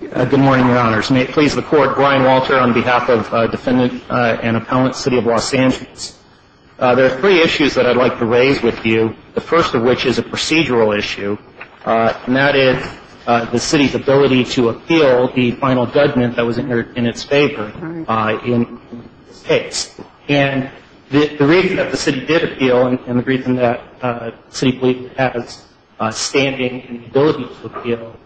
Good morning, Your Honors. May it please the Court, Brian Walter on behalf of Defendant and Appellant, City of Los Angeles. There are three issues that I'd like to raise with you, the first of which is a procedural issue, and that is the City's ability to appeal the final judgment that was in its favor in this case. And the reason that the City did appeal, and the reason that the City Police has standing and the ability to appeal,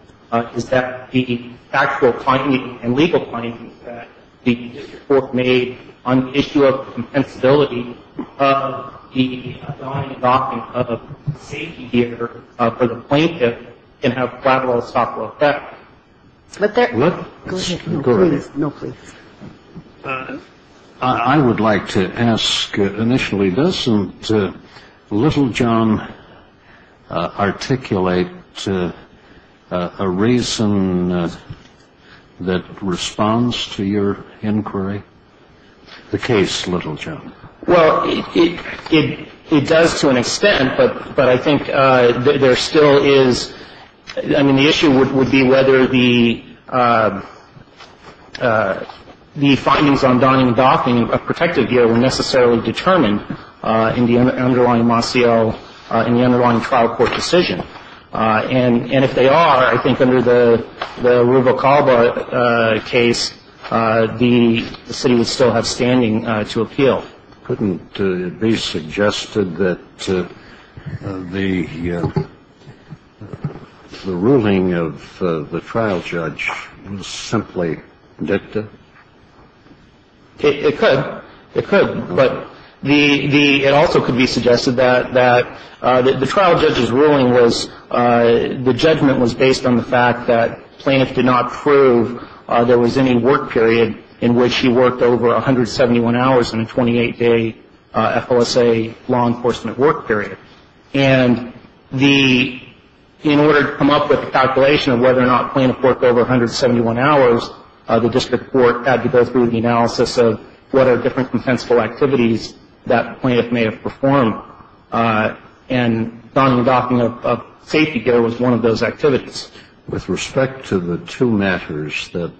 is that the factual findings and legal findings that the District Court made on the issue of compensability of the assigned adoption of a safety gear for the plaintiff can have collateral and stockpile effect. I would like to ask initially, doesn't Littlejohn articulate a reason that responds to your inquiry, the case Littlejohn? Well, it does to an extent, but I think there still is, I mean, the issue would be whether the findings on donning and adopting a protective gear were necessarily determined in the underlying trial court decision. And if they are, I think under the Rubalcalba case, the City would still have standing to appeal. Couldn't it be suggested that the ruling of the trial judge was simply dicta? It could. It could. But it also could be suggested that the trial judge's ruling was, the judgment was based on the fact that the plaintiff did not prove there was any work period in which he worked over 171 hours in a 28-day FLSA law enforcement work period. And in order to come up with a calculation of whether or not the plaintiff worked over 171 hours, the District Court had to go through the analysis of what are different compensable activities that the plaintiff may have performed. And donning and adopting a safety gear was one of those activities. With respect to the two matters that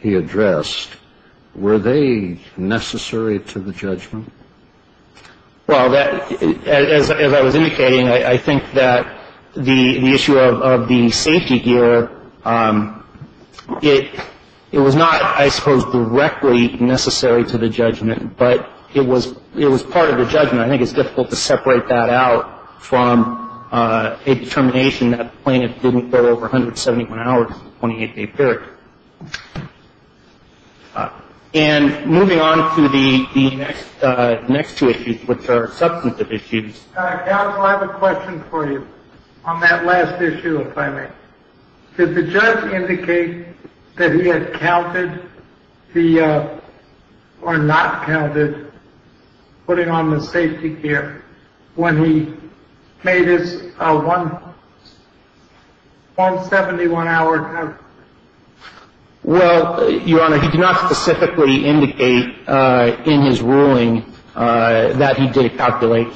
he addressed, were they necessary to the judgment? Well, as I was indicating, I think that the issue of the safety gear, it was not, I suppose, directly necessary to the judgment, but it was part of the judgment. I think it's difficult to separate that out from a determination that the plaintiff didn't go over 171 hours in a 28-day period. And moving on to the next two issues, which are substantive issues. Alex, I have a question for you on that last issue, if I may. Did the judge indicate that he had counted the, or not counted, putting on the safety gear when he made his 171-hour time? Well, Your Honor, he did not specifically indicate in his ruling that he did calculate.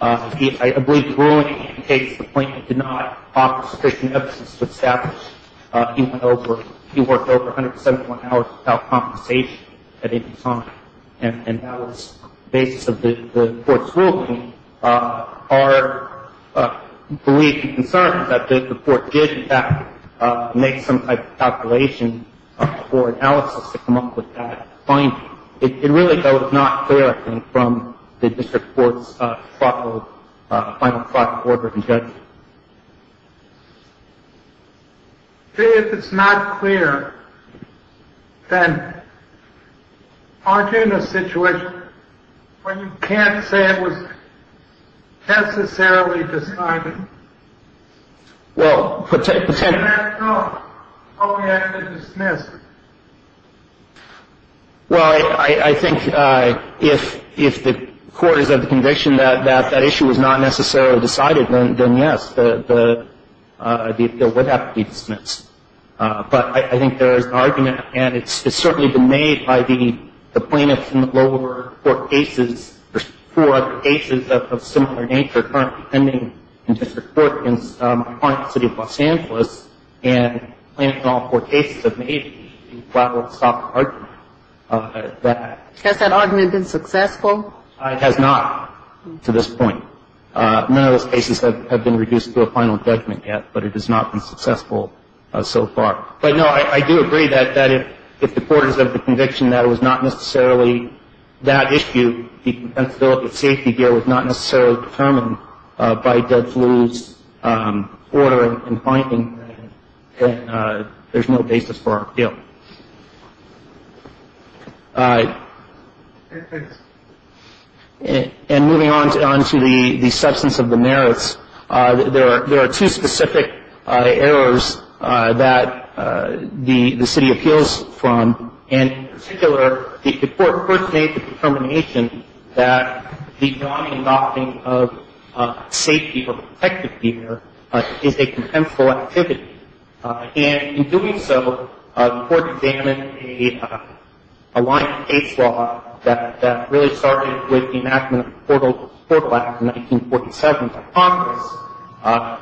I believe the ruling indicates the plaintiff did not offer sufficient evidence to establish he went over, he worked over 171 hours without compensation at any time. And that was the basis of the court's ruling. Our belief and concern is that the court did, in fact, make some type of calculation or analysis to come up with that finding. It really, though, is not clear, I think, from the district court's final thought report and judgment. See, if it's not clear, then aren't you in a situation where you can't say it was necessarily decided? Well, pretend. Oh, yeah, it was dismissed. Well, I think if the court is of the conviction that that issue was not necessarily decided, then yes, the appeal would have to be dismissed. But I think there is an argument, and it's certainly been made by the plaintiffs in the lower court cases, there's four other cases of similar nature currently pending in district court in my client's city of Los Angeles, and plaintiffs in all four cases have made a flat or soft argument. Has that argument been successful? It has not to this point. None of those cases have been reduced to a final judgment yet, but it has not been successful so far. But, no, I do agree that if the court is of the conviction that it was not necessarily that issue, the compensability and safety deal was not necessarily determined by Dead Flu's order and finding, then there's no basis for our appeal. And moving on to the substance of the merits, there are two specific errors that the city appeals from. And in particular, the court first made the determination that the non-adopting of safety or protective gear is a contemptible activity. And in doing so, the court examined a line of state's law that really started with the enactment of the Portal Act of 1947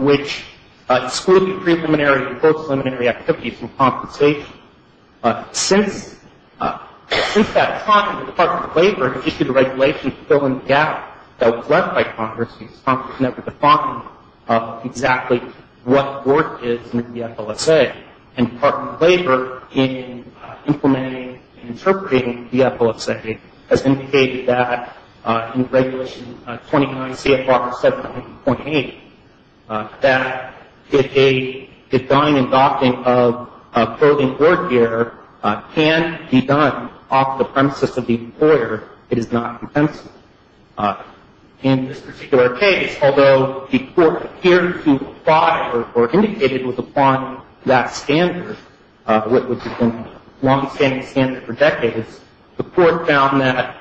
which excluded preliminary and post-preliminary activities from compensation. Since that time, the Department of Labor has issued a regulation to fill in the gap that was left by Congress because Congress never defined exactly what work is in the DFLSA. And the Department of Labor, in implementing and interpreting the DFLSA, has indicated that in Regulation 29 CFR 7.8, that if a design and adopting of clothing or gear can be done off the premises of the employer, it is not compensable. In this particular case, although the court appeared to fire or indicated it was upon that standard, which has been a long-standing standard for decades, the court found that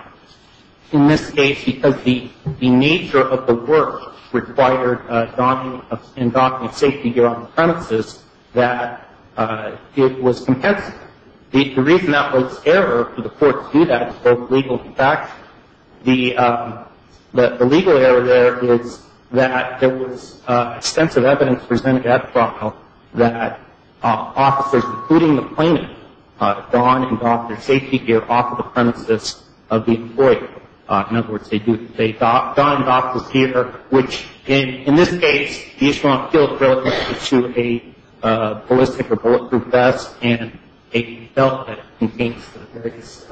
in this case because the nature of the work required adopting safety gear on the premises, that it was compensable. The reason that was error for the court to do that was both legal and factual. The legal error there is that there was extensive evidence presented at the trial that officers, including the plaintiff, had gone and adopted safety gear off of the premises of the employer. In other words, they had gone and adopted gear which, in this case, is still relative to a ballistic or bulletproof vest and a belt that contains the various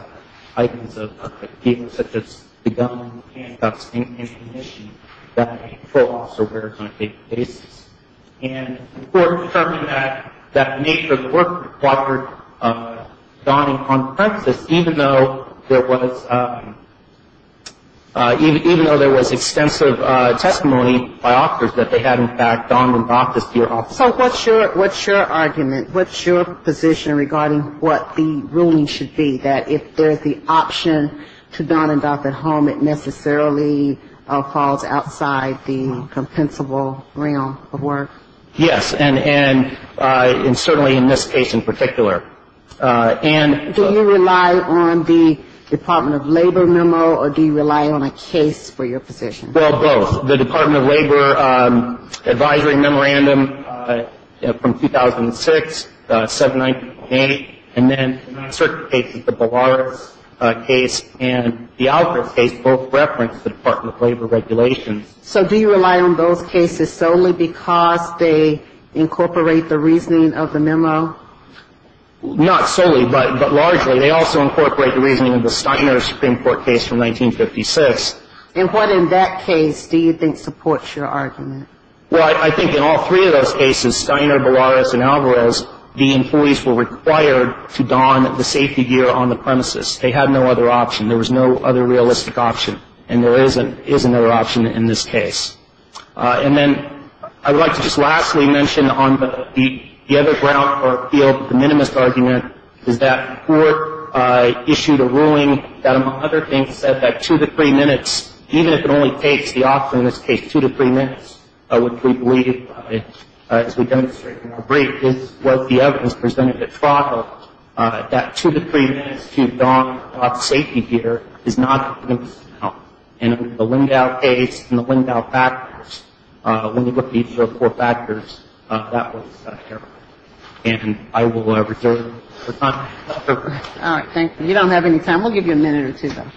items of equipment, such as the gun, handcuffs, and ammunition that a patrol officer wears on a daily basis. And the court determined that the nature of the work required donning on the premises, even though there was extensive testimony by officers that they had, in fact, gone and adopted gear off the premises. So what's your argument? What's your position regarding what the ruling should be, that if there's the option to don and adopt at home, it necessarily falls outside the compensable realm of work? Yes, and certainly in this case in particular. Do you rely on the Department of Labor memo, or do you rely on a case for your position? Well, both. The Department of Labor advisory memorandum from 2006, 798, and then in uncertain cases the Ballaras case and the Alcor case both reference the Department of Labor regulations. So do you rely on those cases solely because they incorporate the reasoning of the memo? Not solely, but largely. They also incorporate the reasoning of the Steiner Supreme Court case from 1956. And what in that case do you think supports your argument? Well, I think in all three of those cases, Steiner, Ballaras, and Alvarez, the employees were required to don the safety gear on the premises. They had no other option. There was no other realistic option, and there is another option in this case. And then I would like to just lastly mention on the other ground or field, is that the court issued a ruling that, among other things, said that two to three minutes, even if it only takes the option, in this case two to three minutes, which we believe as we demonstrated in our brief, is what the evidence presented it for, that two to three minutes to don safety gear is not the minimum amount. And in the Lindau case and the Lindau factors, when you look at each of the four factors, that was terrible. And I will reserve the time. All right. Thank you. You don't have any time. We'll give you a minute or two, though.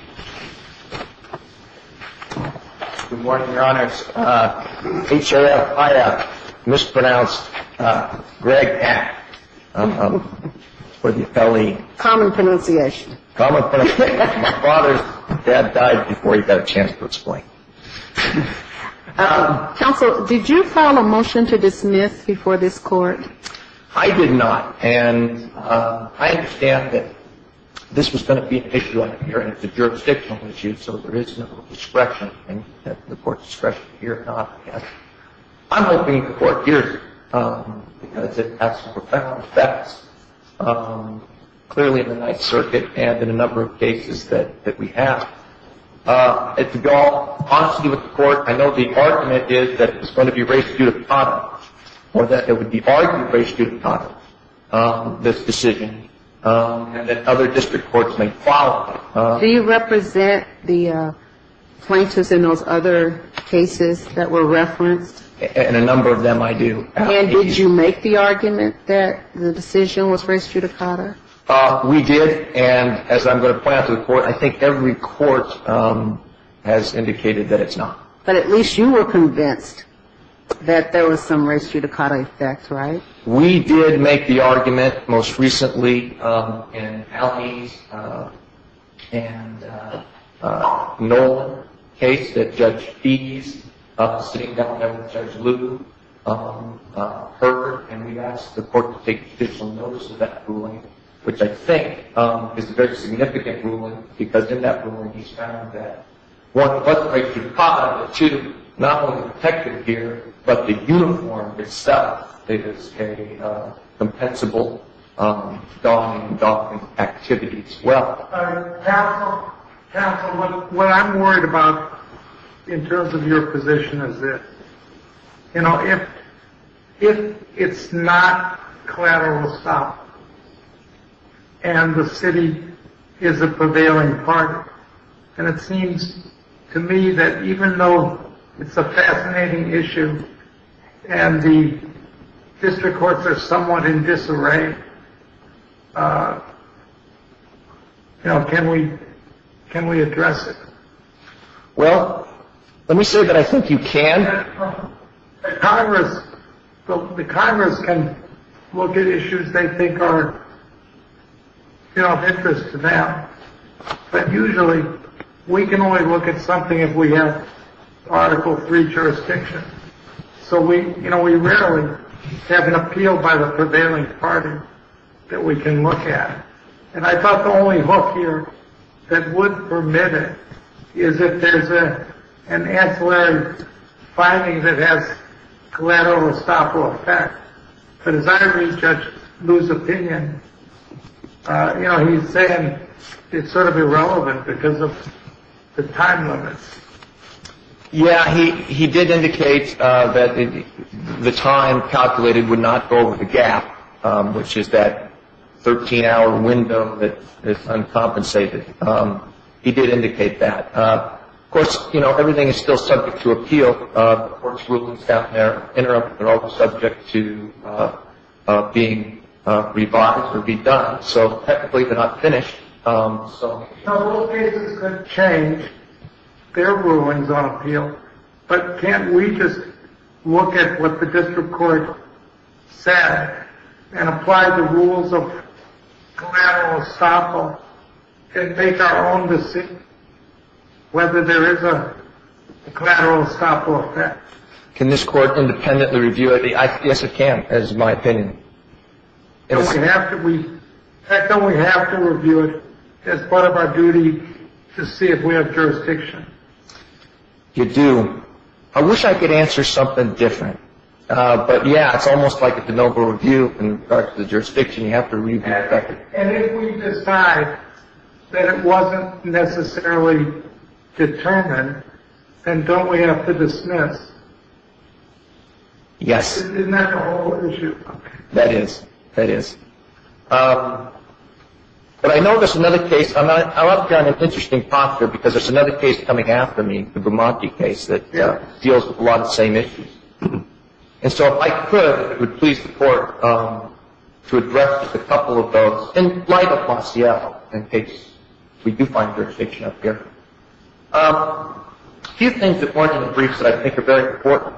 Good morning, Your Honors. HRL, I mispronounced Greg. Common pronunciation. Common pronunciation. My father's dad died before he got a chance to explain. Counsel, did you file a motion to dismiss before this Court? I did not. And I understand that this was going to be an issue on the hearing. It's a jurisdictional issue, so there is no discretion. And the Court's discretion to hear it or not, yes. I'm hoping the Court hears it because it has some effects, clearly, in the Ninth Circuit and in a number of cases that we have. To be honest with you with the Court, I know the argument is that it's going to be res judicata or that it would be argued res judicata, this decision, and that other district courts may follow. Do you represent the plaintiffs in those other cases that were referenced? In a number of them, I do. And did you make the argument that the decision was res judicata? We did. And as I'm going to point out to the Court, I think every court has indicated that it's not. But at least you were convinced that there was some res judicata effect, right? We did make the argument most recently in Allie's and Nolan's case that Judge Fee's sitting down there with Judge Liu heard, and we asked the Court to take official notice of that ruling, which I think is a very significant ruling because in that ruling, he's found that one, it wasn't res judicata, but two, not only the detective here, but the uniform itself is a compensable dog-eating, dog-eating activity as well. Counsel, what I'm worried about in terms of your position is that, you know, if it's not collateral assault and the city is a prevailing part, and it seems to me that even though it's a fascinating issue and the district courts are somewhat in disarray, you know, can we address it? Well, let me say that I think you can. Congress, the Congress can look at issues they think are, you know, of interest to them. But usually we can only look at something if we have Article III jurisdiction. So we, you know, we rarely have an appeal by the prevailing party that we can look at. And I thought the only hook here that would permit it is if there's an ancillary finding that has collateral estoppel effect. But as I read Judge Liu's opinion, you know, he's saying it's sort of irrelevant because of the time limits. Yeah, he did indicate that the time calculated would not go over the gap, which is that 13-hour window that is uncompensated. He did indicate that. Of course, you know, everything is still subject to appeal. The court's rulings down there interrupt. They're all subject to being revised or be done. So technically they're not finished. So those cases could change. Their ruling's on appeal. But can't we just look at what the district court said and apply the rules of collateral estoppel and make our own decision whether there is a collateral estoppel effect? Can this court independently review it? Yes, it can, is my opinion. Don't we have to review it as part of our duty to see if we have jurisdiction? You do. I wish I could answer something different. But, yeah, it's almost like a de novo review in regards to the jurisdiction. You have to read the effect. And if we decide that it wasn't necessarily determined, then don't we have to dismiss? Yes. Isn't that the whole issue? That is. That is. But I know there's another case. I'm up here in an interesting posture because there's another case coming after me, the Brumanti case, that deals with a lot of the same issues. And so if I could, I would please the court to address just a couple of those in light of Montiel, in case we do find jurisdiction up here. A few things that weren't in the briefs that I think are very important.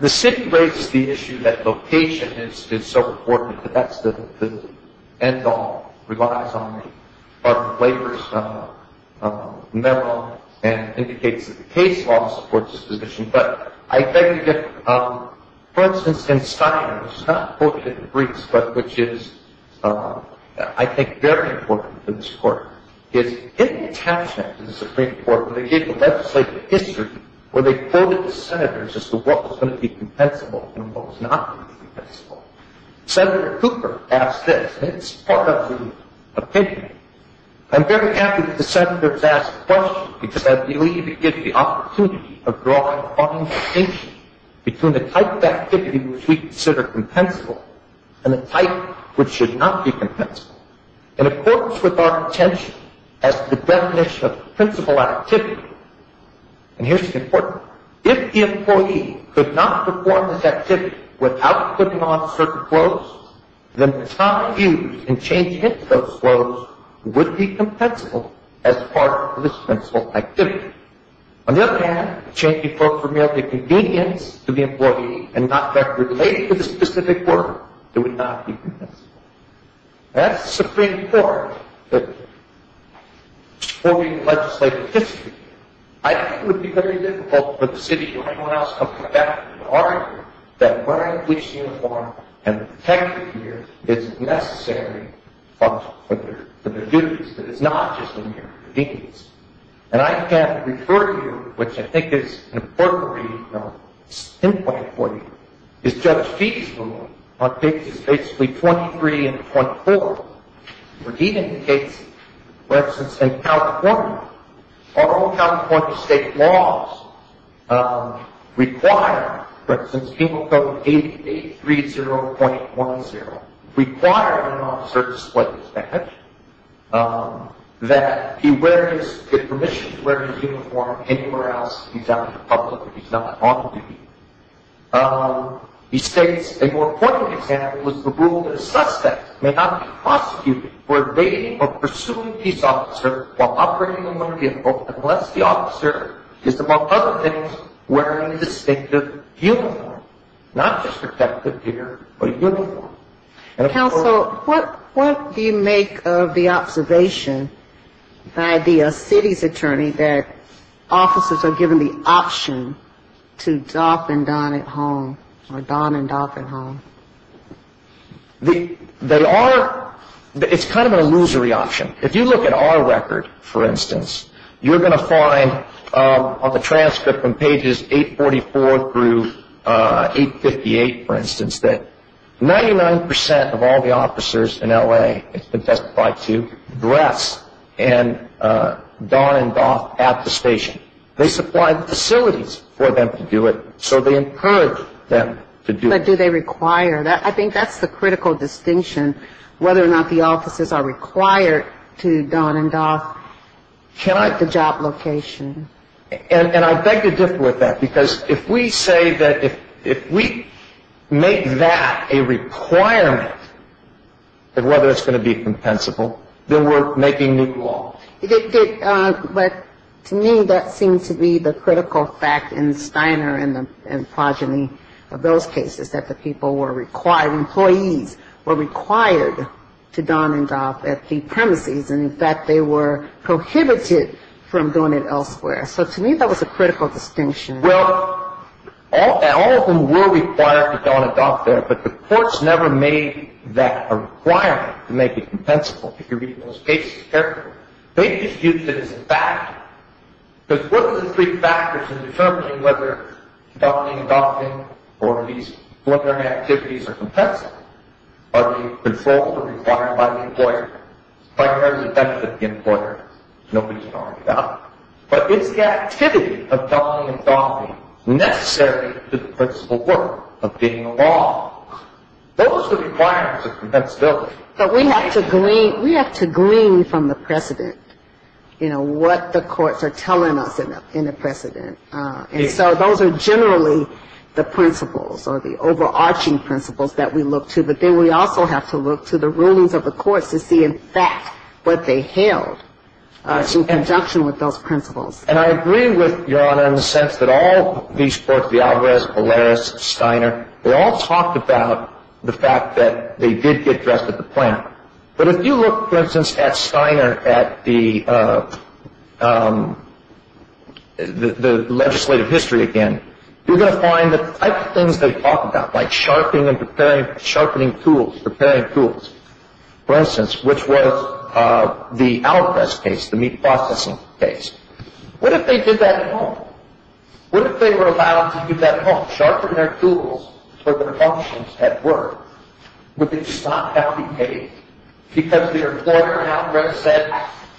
The city raises the issue that location is so important, but that's the end all, relies on the labor's memo and indicates that the case law supports this position. But I beg to differ. For instance, in Steinem, it's not quoted in the briefs, but which is, I think, very important to this court. It's in the captioning of the Supreme Court where they gave a legislative history where they quoted the senators as to what was going to be compensable and what was not going to be compensable. Senator Cooper asked this, and it's part of the opinion. I'm very happy that the senators asked the question because I believe it gives the opportunity of drawing a fine distinction between the type of activity which we consider compensable and the type which should not be compensable. In accordance with our intention as to the definition of principal activity, and here's the important part, if the employee could not perform this activity without putting on certain clothes, then the time used in changing into those clothes would be compensable as part of this principal activity. On the other hand, if changing clothes were merely a convenience to the employee and not related to the specific work, it would not be compensable. That's the Supreme Court quoting the legislative history. I think it would be very difficult for the city or anyone else to argue that wearing a police uniform and a protective gear is necessary for their duties, that it's not just a mere convenience. And I can refer to you, which I think is an important reading point for you, is Judge Feig's ruling on pages basically 23 and 24, where he indicates, for instance, in California, our own California state laws require, for instance, Penal Code 8830.10, require an officer to display this badge, that he get permission to wear his uniform anywhere else. He's out in the public and he's not on duty. He states, a more important example is the rule that a suspect may not be prosecuted for evading or pursuing his officer while operating in the limited scope unless the officer is, among other things, wearing a distinctive uniform, not just a protective gear or uniform. Counsel, what do you make of the observation by the city's attorney that officers are given the option to doff and don at home or don and doff at home? They are ‑‑ it's kind of an illusory option. If you look at our record, for instance, you're going to find on the transcript on pages 844 through 858, for instance, that 99% of all the officers in L.A. have been testified to dress and don and doff at the station. They supply the facilities for them to do it, so they encourage them to do it. But do they require that? I think that's the critical distinction, whether or not the officers are required to don and doff at the job location. And I beg to differ with that, because if we say that if we make that a requirement of whether it's going to be compensable, then we're making new law. But to me, that seems to be the critical fact in Steiner and progeny of those cases, that the people were required, employees were required to don and doff at the premises, and, in fact, they were prohibited from doing it elsewhere. So, to me, that was a critical distinction. Well, all of them were required to don and doff there, but the courts never made that a requirement to make it compensable, if you're reading those cases carefully. They just used it as a factor. Because what are the three factors in determining whether donning, doffing, or these preliminary activities are compensable? Are they controlled or required by the employer? By the representative of the employer, nobody can argue that. But is the activity of donning and doffing necessary to the principle work of being a law? Those are the requirements of compensability. But we have to glean from the precedent, you know, what the courts are telling us in the precedent. And so those are generally the principles or the overarching principles that we look to. But then we also have to look to the rulings of the courts to see, in fact, what they held in conjunction with those principles. And I agree with Your Honor in the sense that all these courts, the Alvarez, Polaris, Steiner, they all talked about the fact that they did get dressed at the plant. But if you look, for instance, at Steiner, at the legislative history again, you're going to find the type of things they talked about, like sharpening and preparing, sharpening tools, preparing tools. For instance, which was the Alvarez case, the meat processing case. What if they did that at home? What if they were allowed to do that at home, sharpen their tools for their functions at work, would they just not have to be paid? Because their employer at Alvarez said,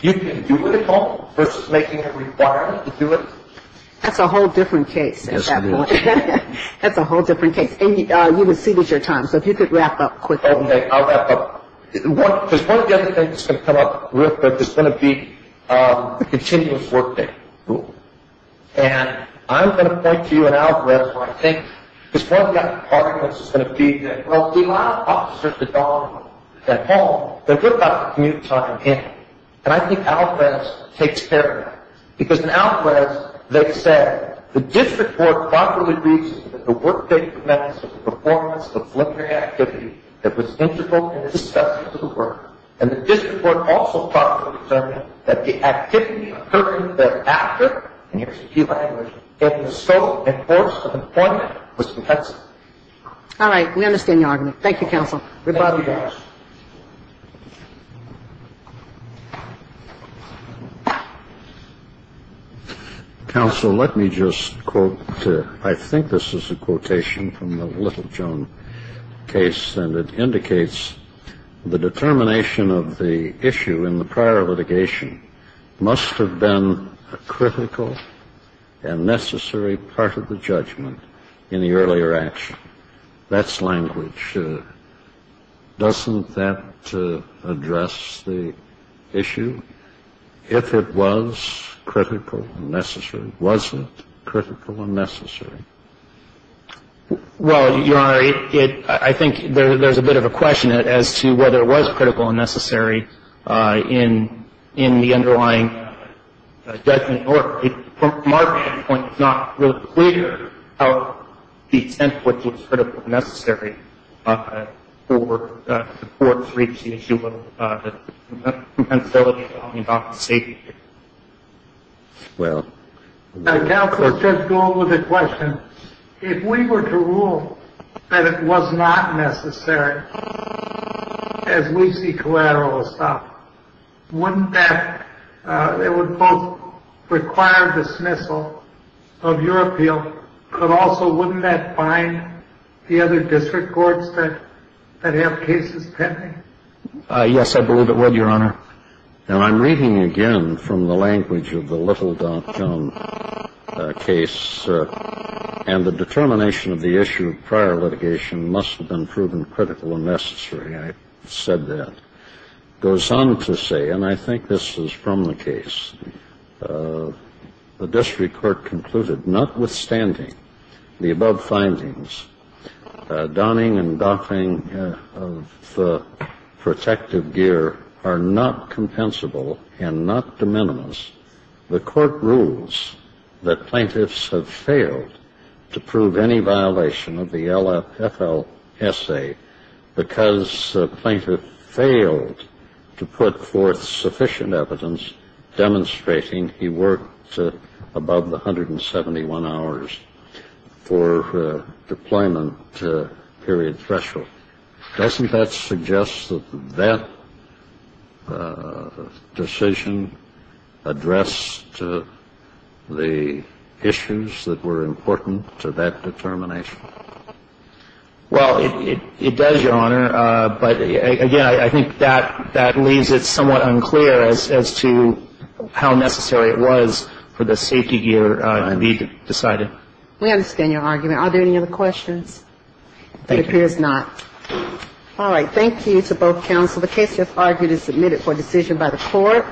you can do it at home, versus making a requirement to do it. That's a whole different case at that point. Yes, it is. That's a whole different case. And you receded your time, so if you could wrap up quickly. Okay, I'll wrap up. Because one of the other things that's going to come up real quick is going to be the continuous workday rule. And I'm going to point to you at Alvarez where I think, because one of the other arguments is going to be that, well, if we allow officers to dine at home, they're going to have to commute time in. And I think Alvarez takes care of that. Because in Alvarez they said, the district court properly agrees that the workday prevents the performance of voluntary activity that was integral in the success of the work. And the district court also properly determined that the activity occurring thereafter, and here's the key language, in the scope and course of employment was compensated. And I think that's going to be one of the other things that's going to come up. All right. We understand your argument. Thank you, counsel. Thank you, Judge. Counsel, let me just quote. I think this is a quotation from the Littlejones case. And it indicates the determination of the issue in the prior litigation must have been a critical and necessary part of the judgment in the earlier action. That's language. Doesn't that address the issue? If it was critical and necessary. Was it critical and necessary? Well, Your Honor, I think there's a bit of a question as to whether it was critical and necessary in the underlying judgment. From our standpoint, it's not really clear how the extent to which it was critical and necessary for the courts to reach the issue of the compensability and compensation. Well. Counsel, let's just go on with the question. If we were to rule that it was not necessary, as we see collateral, wouldn't that both require dismissal of your appeal, but also wouldn't that bind the other district courts that have cases pending? Yes, I believe it would, Your Honor. Now, I'm reading again from the language of the Littlejones case, and the determination of the issue of prior litigation must have been proven critical and necessary. I said that. It goes on to say, and I think this is from the case, the district court concluded, notwithstanding the above findings, donning and doffing of protective gear are not compensable and not de minimis. The court rules that plaintiffs have failed to prove any violation of the LFL essay because the plaintiff failed to put forth sufficient evidence demonstrating he worked above the 171 hours for deployment period threshold. Doesn't that suggest that that decision addressed the issues that were important to that determination? Again, I think that leaves it somewhat unclear as to how necessary it was for the safety gear to be decided. We understand your argument. Are there any other questions? It appears not. All right. Thank you to both counsel. The case, as argued, is submitted for decision by the court.